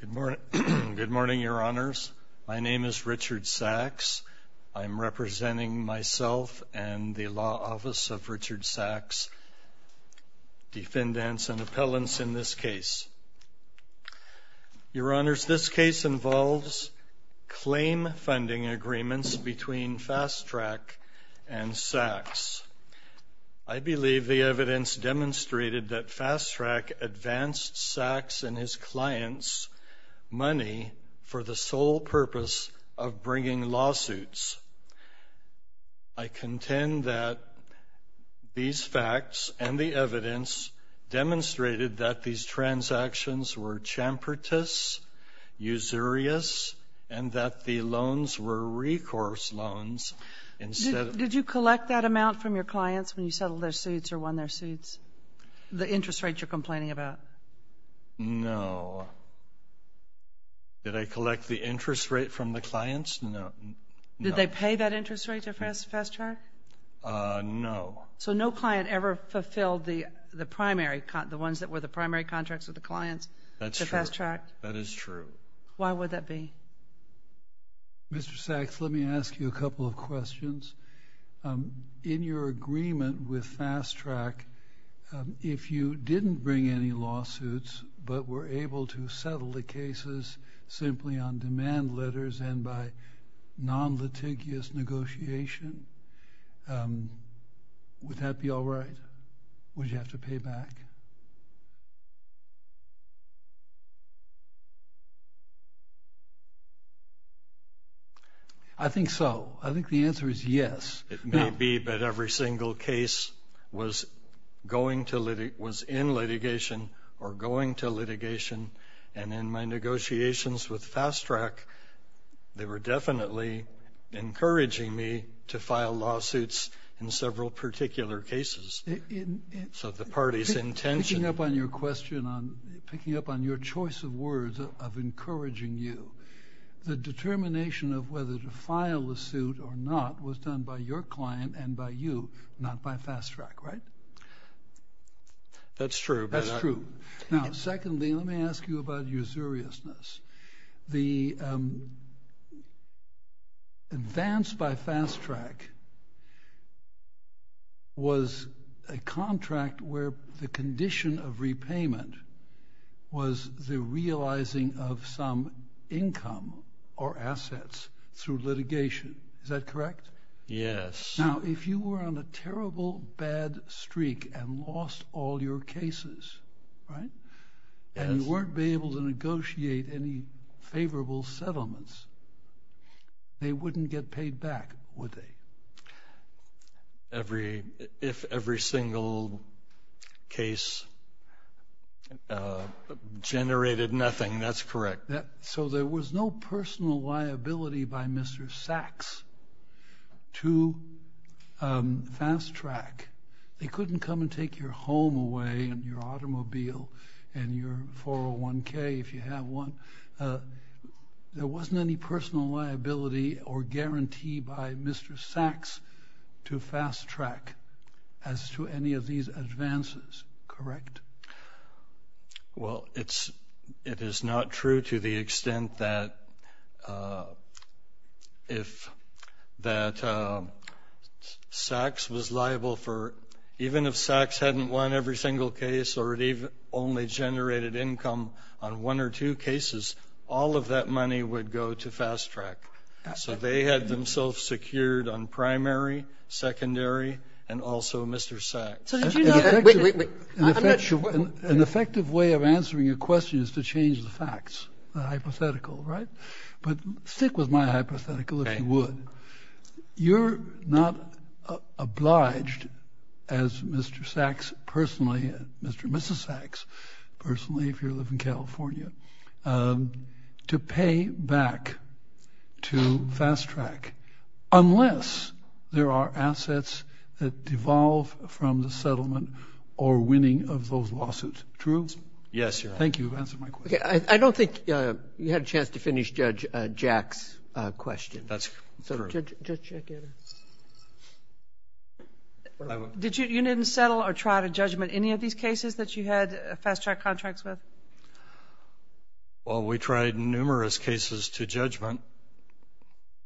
Good morning, Your Honours. My name is Richard Sax. I'm representing myself and the Law Office of Richard Sax, defendants and appellants in this case. Your Honours, this case involves claim funding agreements between Fast Trak and Sax. I believe the evidence demonstrated that Fast Trak advanced Sax and his clients' money for the sole purpose of bringing lawsuits. I contend that these facts and the evidence demonstrated that these transactions were chamfertous, usurious, and that the loans were recourse loans instead of... Did you collect that amount from your clients when you settled their suits or won their suits, the interest rates you're complaining about? No. Did I collect the interest rate from the clients? No. Did they pay that interest rate to Fast Trak? No. So no client ever fulfilled the ones that were the primary contracts with the clients to Fast Trak? That's true. That is true. Why would that be? Mr. Sax, let me ask you a couple of questions. In your agreement with Fast Trak, if you didn't bring any lawsuits but were able to settle the cases simply on demand letters and by non-litigious negotiation, would that be all right? Would you have to pay back? I think so. I think the answer is yes. It may be, but every single case was in litigation or going to litigation, and in my negotiations with Fast Trak, they were definitely encouraging me to file lawsuits in several particular cases. So the party's intention... Picking up on your choice of words of encouraging you, the determination of whether to file a suit or not was done by your client and by you, not by Fast Trak, right? That's true. That's true. Now, secondly, let me ask you about your seriousness. The advance by Fast Trak was a contract where the condition of repayment was the realizing of some income or assets through litigation. Is that correct? Yes. Now, if you were on a terrible, bad streak and lost all your cases, right, and you weren't able to negotiate any favorable settlements, they wouldn't get paid back, would they? If every single case generated nothing, that's correct. So there was no personal liability by Mr. Sachs to Fast Trak. They couldn't come and take your home away and your automobile and your 401k if you have one. There wasn't any personal liability or guarantee by Mr. Sachs to Fast Trak as to any of these advances, correct? Well, it is not true to the extent that if that Sachs was liable for, even if Sachs hadn't won every single case or it only generated income on one or two cases, all of that money would go to Fast Trak. So they had themselves secured on primary, secondary, and also Mr. Sachs. An effective way of answering your question is to change the facts, the hypothetical, right? But stick with my hypothetical if you would. You're not obliged as Mr. Sachs personally, Mr. and Mrs. Sachs personally if you live in California, to pay back to Fast Trak unless there are assets that devolve from the settlement or winning of those lawsuits. True? Yes, Your Honor. Thank you for answering my question. Okay. I don't think you had a chance to finish Judge Jack's question. That's true. Judge Jack Anner. You didn't settle or try to judgment any of these cases that you had Fast Trak contracts with? Well, we tried numerous cases to judgment.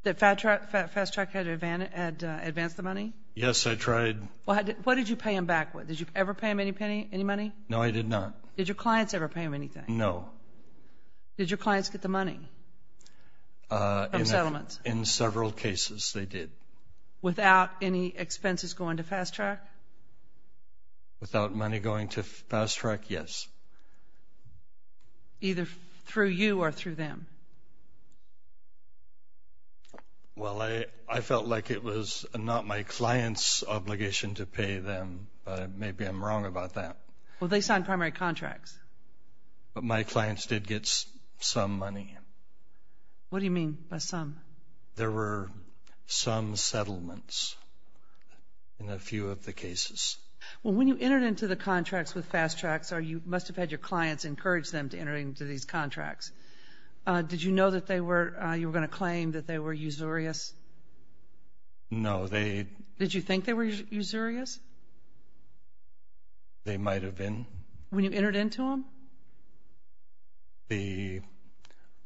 That Fast Trak had advanced the money? Yes, I tried. What did you pay them back with? Did you ever pay them any money? No, I did not. Did your clients ever pay them anything? No. Did your clients get the money from settlements? In several cases, they did. Without any expenses going to Fast Trak? Without money going to Fast Trak, yes. Either through you or through them? Well, I felt like it was not my client's obligation to pay them. Maybe I'm wrong about that. Well, they signed primary contracts. But my clients did get some money. What do you mean by some? There were some settlements in a few of the cases. Well, when you entered into the contracts with Fast Trak, you must have had your clients encourage them to enter into these contracts. Did you know that you were going to claim that they were usurious? No. Did you think they were usurious? They might have been. When you entered into them? The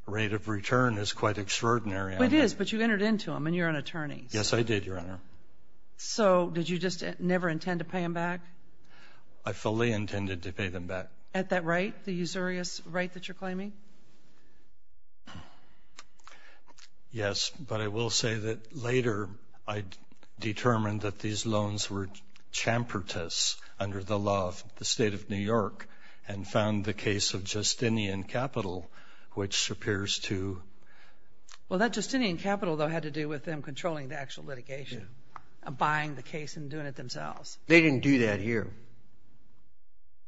rate of return is quite extraordinary. It is, but you entered into them, and you're an attorney. Yes, I did, Your Honor. So did you just never intend to pay them back? I fully intended to pay them back. At that rate, the usurious rate that you're claiming? Yes, but I will say that later I determined that these loans were under the law of the State of New York and found the case of Justinian Capital, which appears to be... Well, that Justinian Capital, though, had to do with them controlling the actual litigation, buying the case and doing it themselves. They didn't do that here.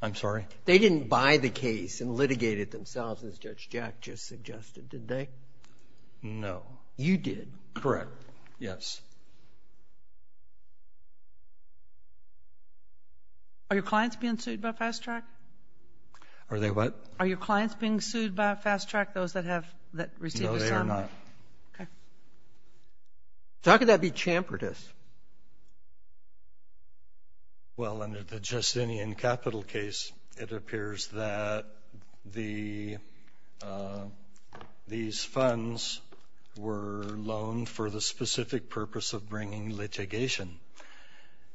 I'm sorry? They didn't buy the case and litigate it themselves, as Judge Jack just suggested, did they? No. You did. Correct. Yes. Are your clients being sued by Fast Track? Are they what? Are your clients being sued by Fast Track, those that have received the sum? No, they are not. Okay. So how could that be chamfered? Well, under the Justinian Capital case, it appears that these funds were loaned for the specific purpose of bringing litigation.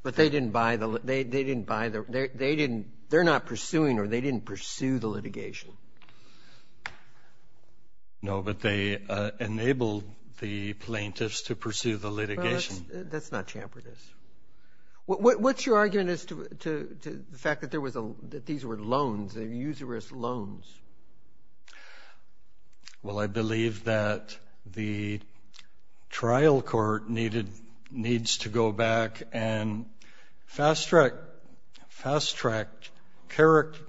But they didn't buy the litigation. They're not pursuing or they didn't pursue the litigation. No, but they enabled the plaintiffs to pursue the litigation. That's not chamfered, is it? What's your argument as to the fact that these were loans, they're usurous loans? Well, I believe that the trial court needs to go back and Fast Track characterized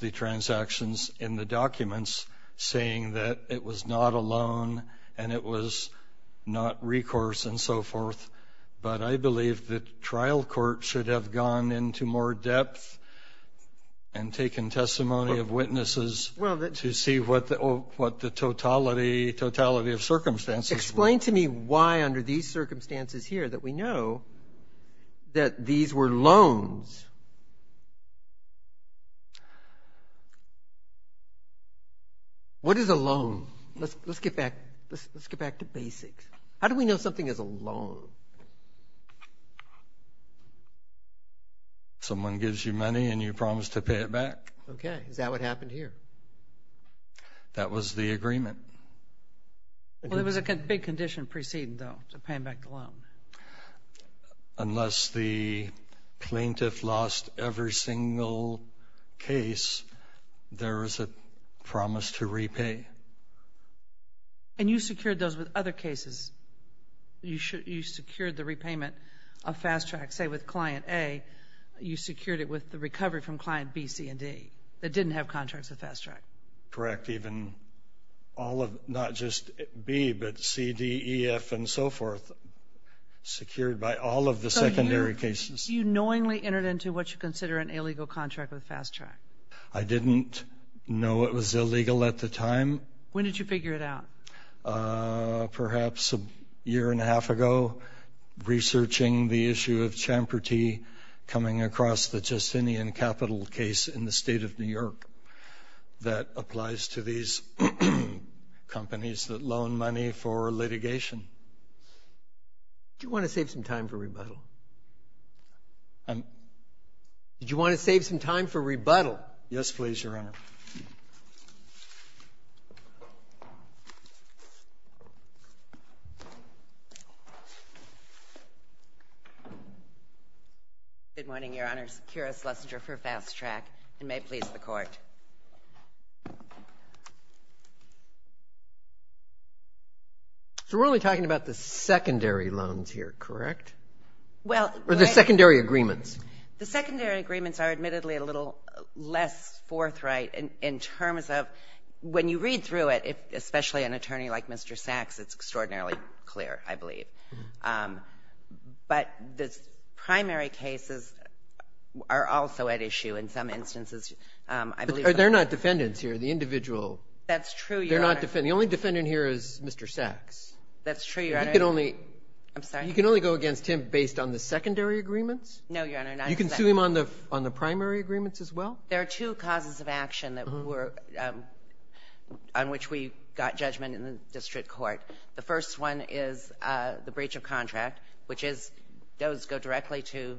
the transactions in the documents, saying that it was not a loan and it was not recourse and so forth. But I believe the trial court should have gone into more depth and taken testimony of witnesses to see what the totality of circumstances were. Explain to me why under these circumstances here that we know that these were loans. What is a loan? Let's get back to basics. How do we know something is a loan? Someone gives you money and you promise to pay it back. Okay. Is that what happened here? That was the agreement. It was a big condition preceded, though, to paying back the loan. Unless the plaintiff lost every single case, there is a promise to repay. And you secured those with other cases. You secured the repayment of Fast Track, say, with Client A. You secured it with the recovery from Client B, C, and D that didn't have contracts with Fast Track. Correct, even all of, not just B, but C, D, E, F, and so forth, secured by all of the secondary cases. So you knowingly entered into what you consider an illegal contract with Fast Track. I didn't know it was illegal at the time. When did you figure it out? Perhaps a year and a half ago, researching the issue of Champerty coming across the Justinian Capital case in the state of New York that applies to these companies that loan money for litigation. Do you want to save some time for rebuttal? Did you want to save some time for rebuttal? Yes, please, Your Honor. Good morning, Your Honors. Kira Schlesinger for Fast Track, and may it please the Court. So we're only talking about the secondary loans here, correct? Or the secondary agreements? The secondary agreements are admittedly a little less forthright in terms of when you read through it, especially an attorney like Mr. Sachs, it's extraordinarily clear, I believe. But the primary cases are also at issue in some instances, I believe. But they're not defendants here, the individual. That's true, Your Honor. They're not defendants. The only defendant here is Mr. Sachs. That's true, Your Honor. You can only go against him based on the secondary agreements? No, Your Honor. You can sue him on the primary agreements as well? There are two causes of action on which we got judgment in the district court. The first one is the breach of contract, which goes directly to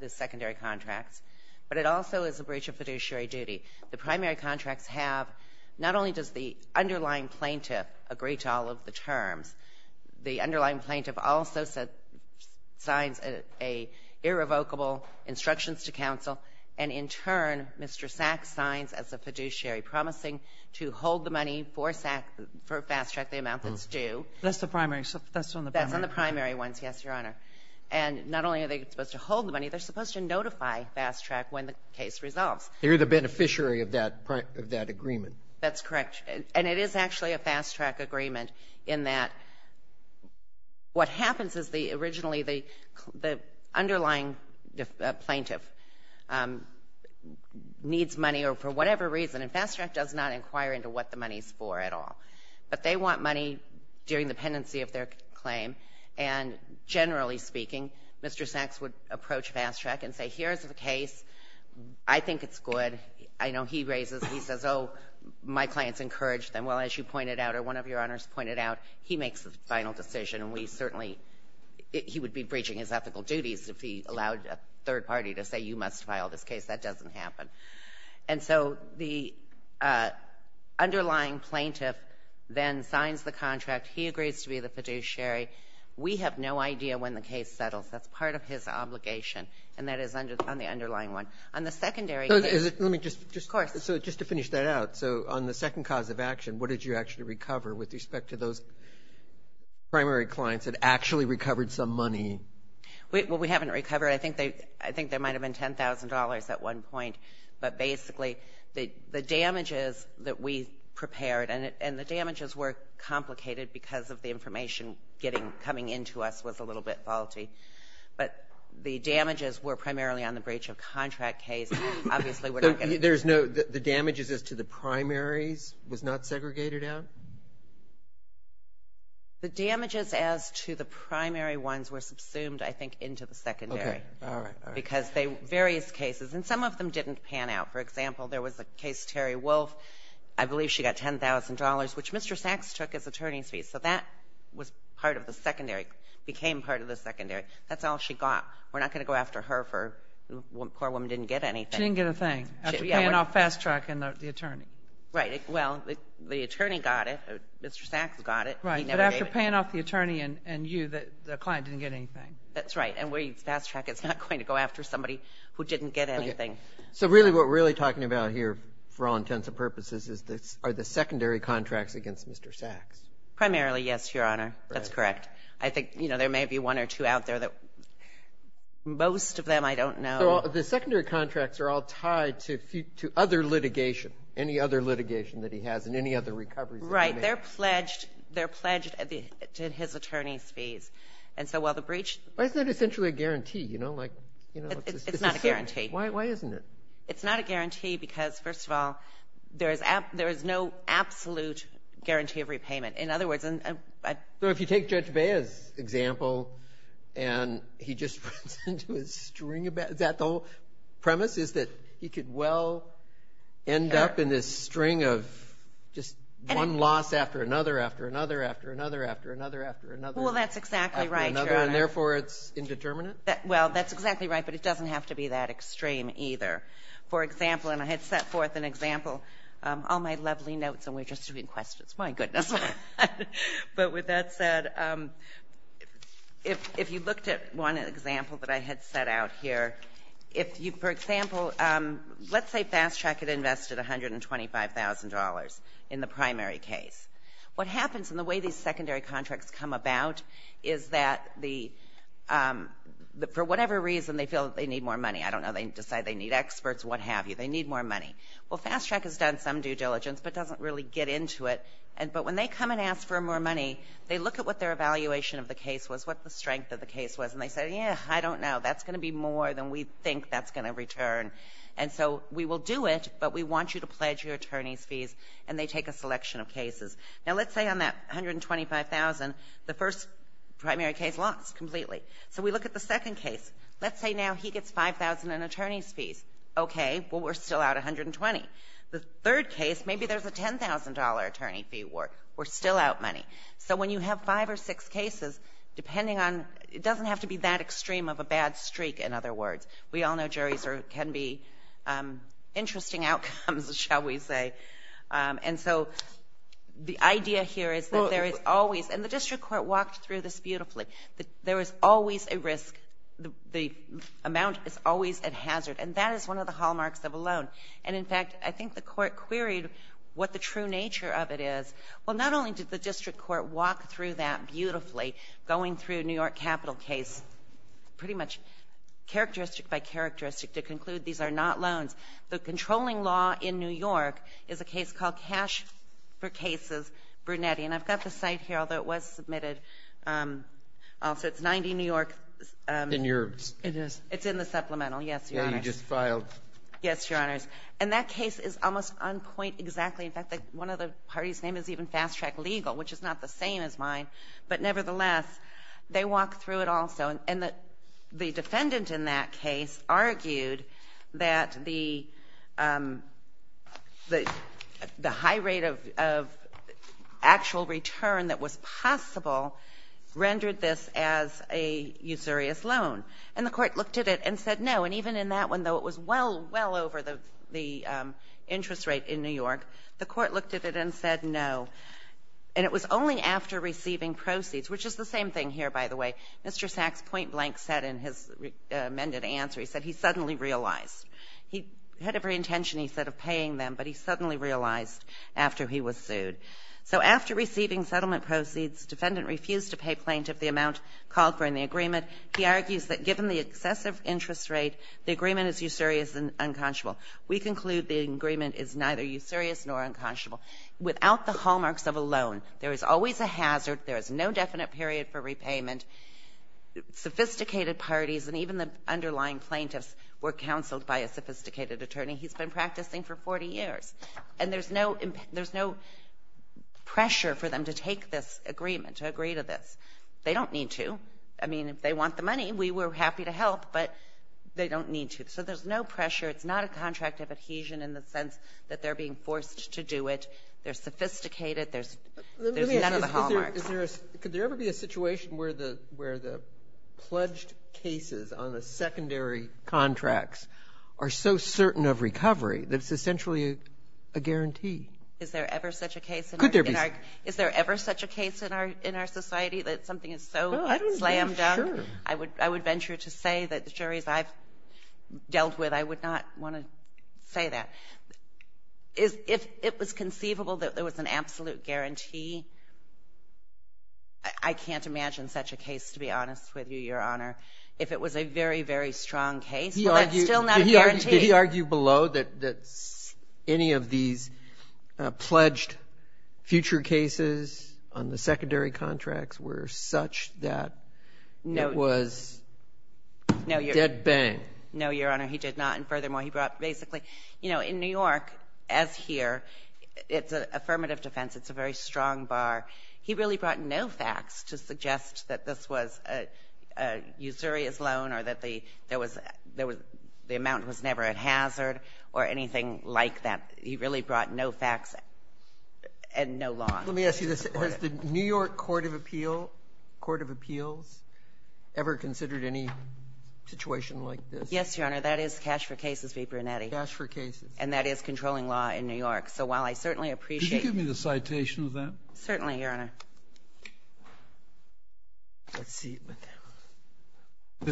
the secondary contracts. But it also is a breach of fiduciary duty. The primary contracts have not only does the underlying plaintiff agree to all of the terms, the underlying plaintiff also signs an irrevocable instructions to counsel. And in turn, Mr. Sachs signs as a fiduciary promising to hold the money for fast track the amount that's due. That's the primary. That's on the primary. That's on the primary ones, yes, Your Honor. And not only are they supposed to hold the money, they're supposed to notify fast track when the case resolves. You're the beneficiary of that agreement. That's correct. And it is actually a fast track agreement in that what happens is the originally the underlying plaintiff needs money or for whatever reason, and fast track does not inquire into what the money is for at all. But they want money during the pendency of their claim, and generally speaking, Mr. Sachs would approach fast track and say, here's the case. I think it's good. And I know he raises, he says, oh, my clients encourage them. Well, as you pointed out or one of Your Honors pointed out, he makes the final decision, and we certainly he would be breaching his ethical duties if he allowed a third party to say you must file this case. That doesn't happen. And so the underlying plaintiff then signs the contract. He agrees to be the fiduciary. We have no idea when the case settles. That's part of his obligation, and that is on the underlying one. Let me just finish that out. So on the second cause of action, what did you actually recover with respect to those primary clients that actually recovered some money? Well, we haven't recovered. I think there might have been $10,000 at one point. But basically the damages that we prepared, and the damages were complicated because of the information coming into us was a little bit faulty. But the damages were primarily on the breach of contract case. Obviously, we're not going to. There's no, the damages as to the primaries was not segregated out? The damages as to the primary ones were subsumed, I think, into the secondary. Okay. All right, all right. Because various cases, and some of them didn't pan out. For example, there was a case, Terry Wolf, I believe she got $10,000, which Mr. Sachs took as attorney's fees. So that was part of the secondary, became part of the secondary. That's all she got. We're not going to go after her for the poor woman didn't get anything. She didn't get a thing after paying off Fast Track and the attorney. Right. Well, the attorney got it. Mr. Sachs got it. Right. But after paying off the attorney and you, the client didn't get anything. That's right. And Fast Track is not going to go after somebody who didn't get anything. So really what we're really talking about here for all intents and purposes are the secondary contracts against Mr. Sachs. Primarily, yes, Your Honor. That's correct. I think there may be one or two out there that most of them I don't know. So the secondary contracts are all tied to other litigation, any other litigation that he has and any other recoveries that he made. Right. They're pledged to his attorney's fees. And so while the breach – Why is that essentially a guarantee? It's not a guarantee. Why isn't it? It's not a guarantee because, first of all, there is no absolute guarantee of repayment. In other words – So if you take Judge Bea's example and he just runs into a string of – is that the whole premise is that he could well end up in this string of just one loss after another, after another, after another, after another, after another. Well, that's exactly right, Your Honor. And therefore it's indeterminate? Well, that's exactly right, but it doesn't have to be that extreme either. For example, and I had set forth an example – all my lovely notes and we're just doing questions. My goodness. But with that said, if you looked at one example that I had set out here, for example, let's say Fast Track had invested $125,000 in the primary case. What happens in the way these secondary contracts come about is that for whatever reason they feel that they need more money. I don't know. They decide they need experts, what have you. They need more money. Well, Fast Track has done some due diligence but doesn't really get into it. But when they come and ask for more money, they look at what their evaluation of the case was, what the strength of the case was, and they say, yeah, I don't know. That's going to be more than we think that's going to return. And so we will do it, but we want you to pledge your attorney's fees, and they take a selection of cases. Now, let's say on that $125,000, the first primary case lost completely. So we look at the second case. Let's say now he gets $5,000 in attorney's fees. Okay. Well, we're still out $120,000. The third case, maybe there's a $10,000 attorney fee award. We're still out money. So when you have five or six cases, depending on – it doesn't have to be that extreme of a bad streak, in other words. We all know juries can be interesting outcomes, shall we say. And so the idea here is that there is always – and the district court walked through this beautifully. There is always a risk. The amount is always a hazard. And that is one of the hallmarks of a loan. And, in fact, I think the court queried what the true nature of it is. Well, not only did the district court walk through that beautifully, going through New York capital case pretty much characteristic by characteristic to conclude these are not loans. The controlling law in New York is a case called Cash for Cases, Brunetti. And I've got the site here, although it was submitted. So it's 90 New York. It is. It's in the supplemental. Yes, Your Honors. Yeah, you just filed. Yes, Your Honors. And that case is almost on point exactly. In fact, one of the parties' name is even Fast Track Legal, which is not the same as mine. But, nevertheless, they walked through it also. And the defendant in that case argued that the high rate of actual return that was possible rendered this as a usurious loan. And the court looked at it and said no. And even in that one, though it was well, well over the interest rate in New York, the court looked at it and said no. And it was only after receiving proceeds, which is the same thing here, by the way. Mr. Sachs point blank said in his amended answer, he said he suddenly realized. He had every intention, he said, of paying them, but he suddenly realized after he was sued. So after receiving settlement proceeds, defendant refused to pay plaintiff the amount called for in the agreement. He argues that given the excessive interest rate, the agreement is usurious and unconscionable. We conclude the agreement is neither usurious nor unconscionable. Without the hallmarks of a loan, there is always a hazard. There is no definite period for repayment. Sophisticated parties and even the underlying plaintiffs were counseled by a sophisticated attorney. He's been practicing for 40 years. And there's no pressure for them to take this agreement, to agree to this. They don't need to. I mean, if they want the money, we were happy to help, but they don't need to. So there's no pressure. It's not a contract of adhesion in the sense that they're being forced to do it. They're sophisticated. There's none of the hallmarks. Roberts. Could there ever be a situation where the pledged cases on the secondary contracts are so certain of recovery that it's essentially a guarantee? Is there ever such a case? Could there be? Is there ever such a case in our society that something is so slammed down? Well, I don't know. Sure. I would venture to say that the juries I've dealt with, I would not want to say that. If it was conceivable that there was an absolute guarantee, I can't imagine such a case, to be honest with you, Your Honor. If it was a very, very strong case, well, that's still not a guarantee. Did he argue below that any of these pledged future cases on the secondary contracts were such that it was dead bang? No, Your Honor, he did not. And furthermore, he brought basically, you know, in New York, as here, it's an affirmative defense, it's a very strong bar. He really brought no facts to suggest that this was a usurious loan or that the amount was never a hazard or anything like that. He really brought no facts and no law. Let me ask you this. Has the New York Court of Appeals ever considered any situation like this? Yes, Your Honor, that is cash for cases v. Brunetti. Cash for cases. And that is controlling law in New York. So while I certainly appreciate it. Could you give me the citation of that? Certainly, Your Honor. This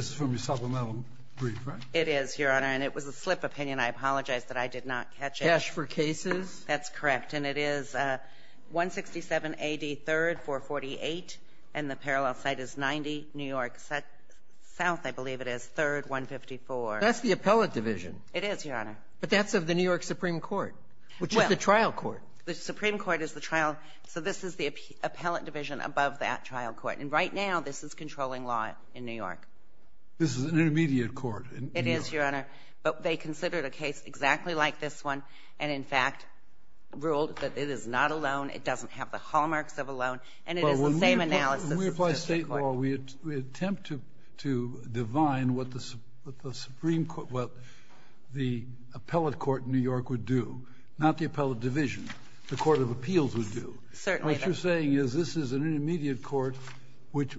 is from your supplemental brief, right? It is, Your Honor, and it was a slip of opinion. I apologize that I did not catch it. Cash for cases? That's correct. And it is 167 A.D. 3rd, 448. And the parallel site is 90 New York South, I believe it is, 3rd, 154. That's the appellate division. It is, Your Honor. But that's of the New York Supreme Court, which is the trial court. Well, the Supreme Court is the trial. So this is the appellate division above that trial court. And right now, this is controlling law in New York. This is an intermediate court in New York. It is, Your Honor. But they considered a case exactly like this one and, in fact, ruled that it is not a loan, it doesn't have the hallmarks of a loan, and it is the same analysis as the Supreme Court. But when we apply state law, we attempt to divine what the Supreme Court, what the appellate court in New York would do, not the appellate division. The court of appeals would do. Certainly. What you're saying is this is an intermediate court which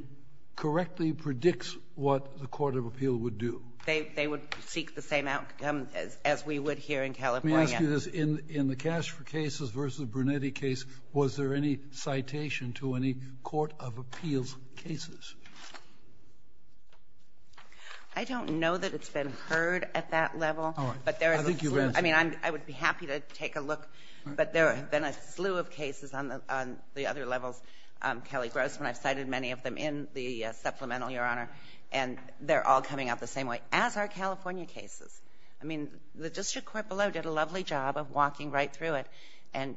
correctly predicts what the court of appeal would do. They would seek the same outcome as we would here in California. Let me ask you this. In the Cash for Cases v. Brunetti case, was there any citation to any court of appeals cases? I don't know that it's been heard at that level. All right. I think you've answered that. I mean, I would be happy to take a look. But there have been a slew of cases on the other levels, Kelly Grossman. I've cited many of them in the supplemental, Your Honor. And they're all coming out the same way as our California cases. I mean, the district court below did a lovely job of walking right through it and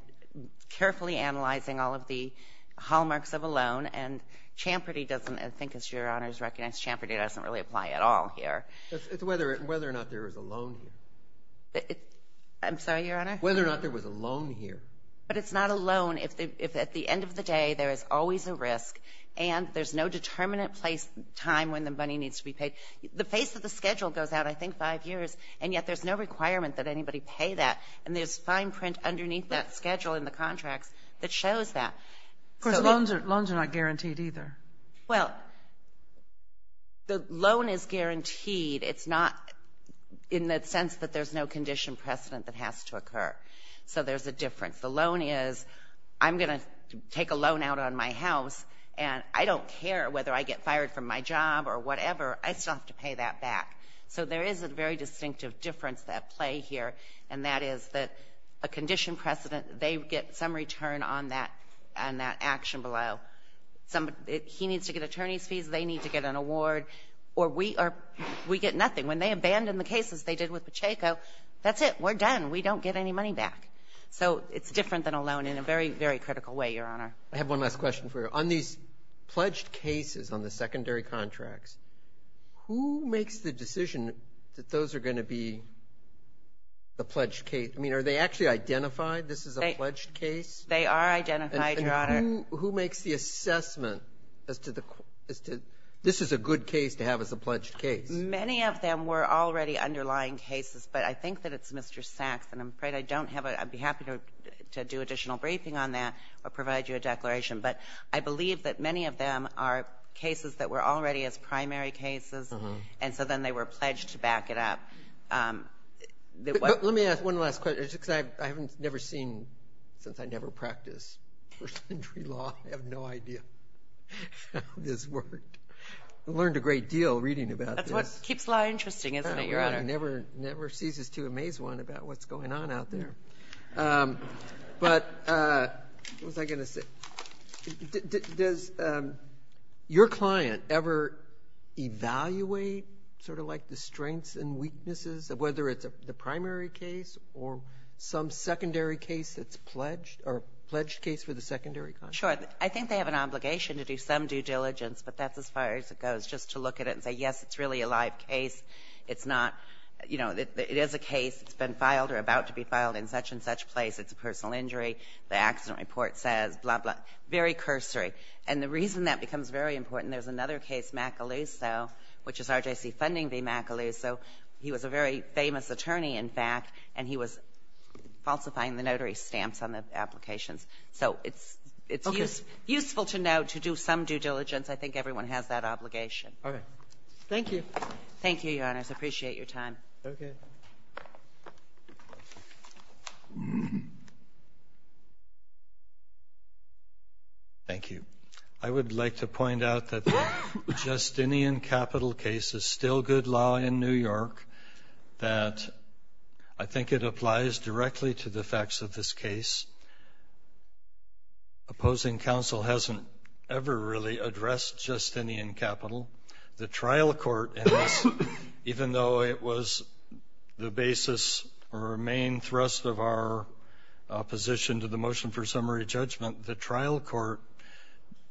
carefully analyzing all of the hallmarks of a loan. And Champerty doesn't, I think as Your Honor has recognized, Champerty doesn't really apply at all here. It's whether or not there was a loan here. I'm sorry, Your Honor? Whether or not there was a loan here. But it's not a loan if at the end of the day there is always a risk and there's no determinate place, time when the money needs to be paid. The face of the schedule goes out, I think, five years, and yet there's no requirement that anybody pay that. And there's fine print underneath that schedule in the contracts that shows that. Of course, loans are not guaranteed either. Well, the loan is guaranteed. It's not in that sense that there's no condition precedent that has to occur. So there's a difference. The loan is I'm going to take a loan out on my house, and I don't care whether I get fired from my job or whatever. I still have to pay that back. So there is a very distinctive difference at play here, and that is that a condition precedent, they get some return on that action below. He needs to get attorney's fees. They need to get an award. Or we get nothing. When they abandon the cases they did with Pacheco, that's it. We're done. We don't get any money back. So it's different than a loan in a very, very critical way, Your Honor. I have one last question for you. On these pledged cases on the secondary contracts, who makes the decision that those are going to be the pledged case? I mean, are they actually identified this is a pledged case? They are identified, Your Honor. And who makes the assessment as to this is a good case to have as a pledged case? Many of them were already underlying cases, but I think that it's Mr. Sachs, and I'm afraid I don't have it. I'd be happy to do additional briefing on that or provide you a declaration. But I believe that many of them are cases that were already as primary cases, and so then they were pledged to back it up. Let me ask one last question. I haven't never seen, since I never practiced first century law, I have no idea how this worked. I learned a great deal reading about this. That's what keeps law interesting, isn't it, Your Honor? It never ceases to amaze one about what's going on out there. But what was I going to say? Does your client ever evaluate sort of like the strengths and weaknesses of whether it's the primary case or some secondary case that's pledged or pledged case for the secondary contract? Sure. I think they have an obligation to do some due diligence, but that's as far as it goes, just to look at it and say, yes, it's really a live case. It's not, you know, it is a case. It's been filed or about to be filed in such-and-such place. It's a personal injury. The accident report says, blah, blah, very cursory. And the reason that becomes very important, there's another case, Macaluso, which is RJC funding v. Macaluso. He was a very famous attorney, in fact, and he was falsifying the notary stamps on the applications. So it's useful to know to do some due diligence. I think everyone has that obligation. Okay. Thank you. Thank you, Your Honors. I appreciate your time. Okay. Thank you. I would like to point out that the Justinian Capital case is still good law in New York, that I think it applies directly to the facts of this case. Opposing counsel hasn't ever really addressed Justinian Capital. The trial court, even though it was the basis or main thrust of our position to the motion for summary judgment, the trial court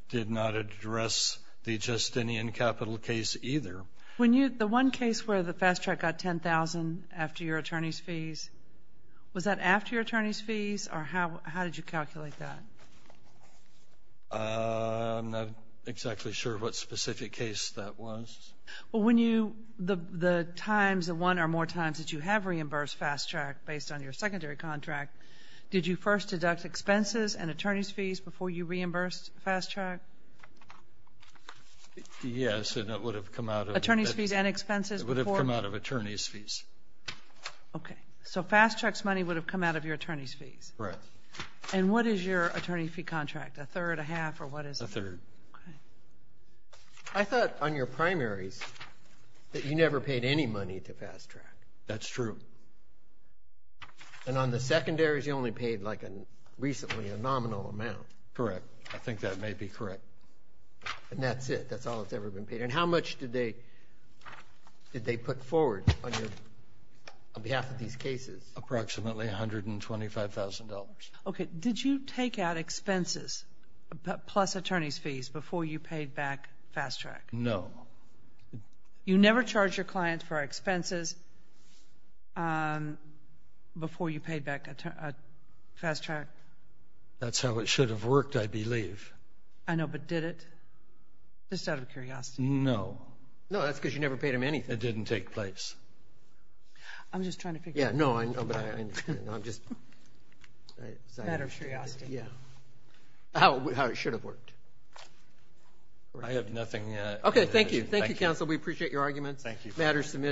did not address the Justinian Capital case either. The one case where the fast track got $10,000 after your attorney's fees, was that after your attorney's fees, or how did you calculate that? I'm not exactly sure what specific case that was. Well, when you the times, the one or more times that you have reimbursed fast track based on your secondary contract, did you first deduct expenses and attorney's fees before you reimbursed fast track? Yes, and it would have come out of Attorney's fees and expenses before It would have come out of attorney's fees. Okay. So fast track's money would have come out of your attorney's fees. Correct. And what is your attorney fee contract? A third, a half, or what is it? A third. Okay. I thought on your primaries that you never paid any money to fast track. That's true. And on the secondaries, you only paid like recently a nominal amount. Correct. I think that may be correct. And that's it? That's all that's ever been paid? And how much did they put forward on behalf of these cases? Approximately $125,000. Okay. Did you take out expenses plus attorney's fees before you paid back fast track? No. You never charged your client for expenses before you paid back fast track? That's how it should have worked, I believe. I know, but did it? Just out of curiosity. No. No, that's because you never paid them anything. It didn't take place. I'm just trying to figure out. Yeah, no, but I'm just. Out of curiosity. Yeah. How it should have worked. I have nothing. Okay, thank you. Thank you, counsel. We appreciate your arguments. Thank you.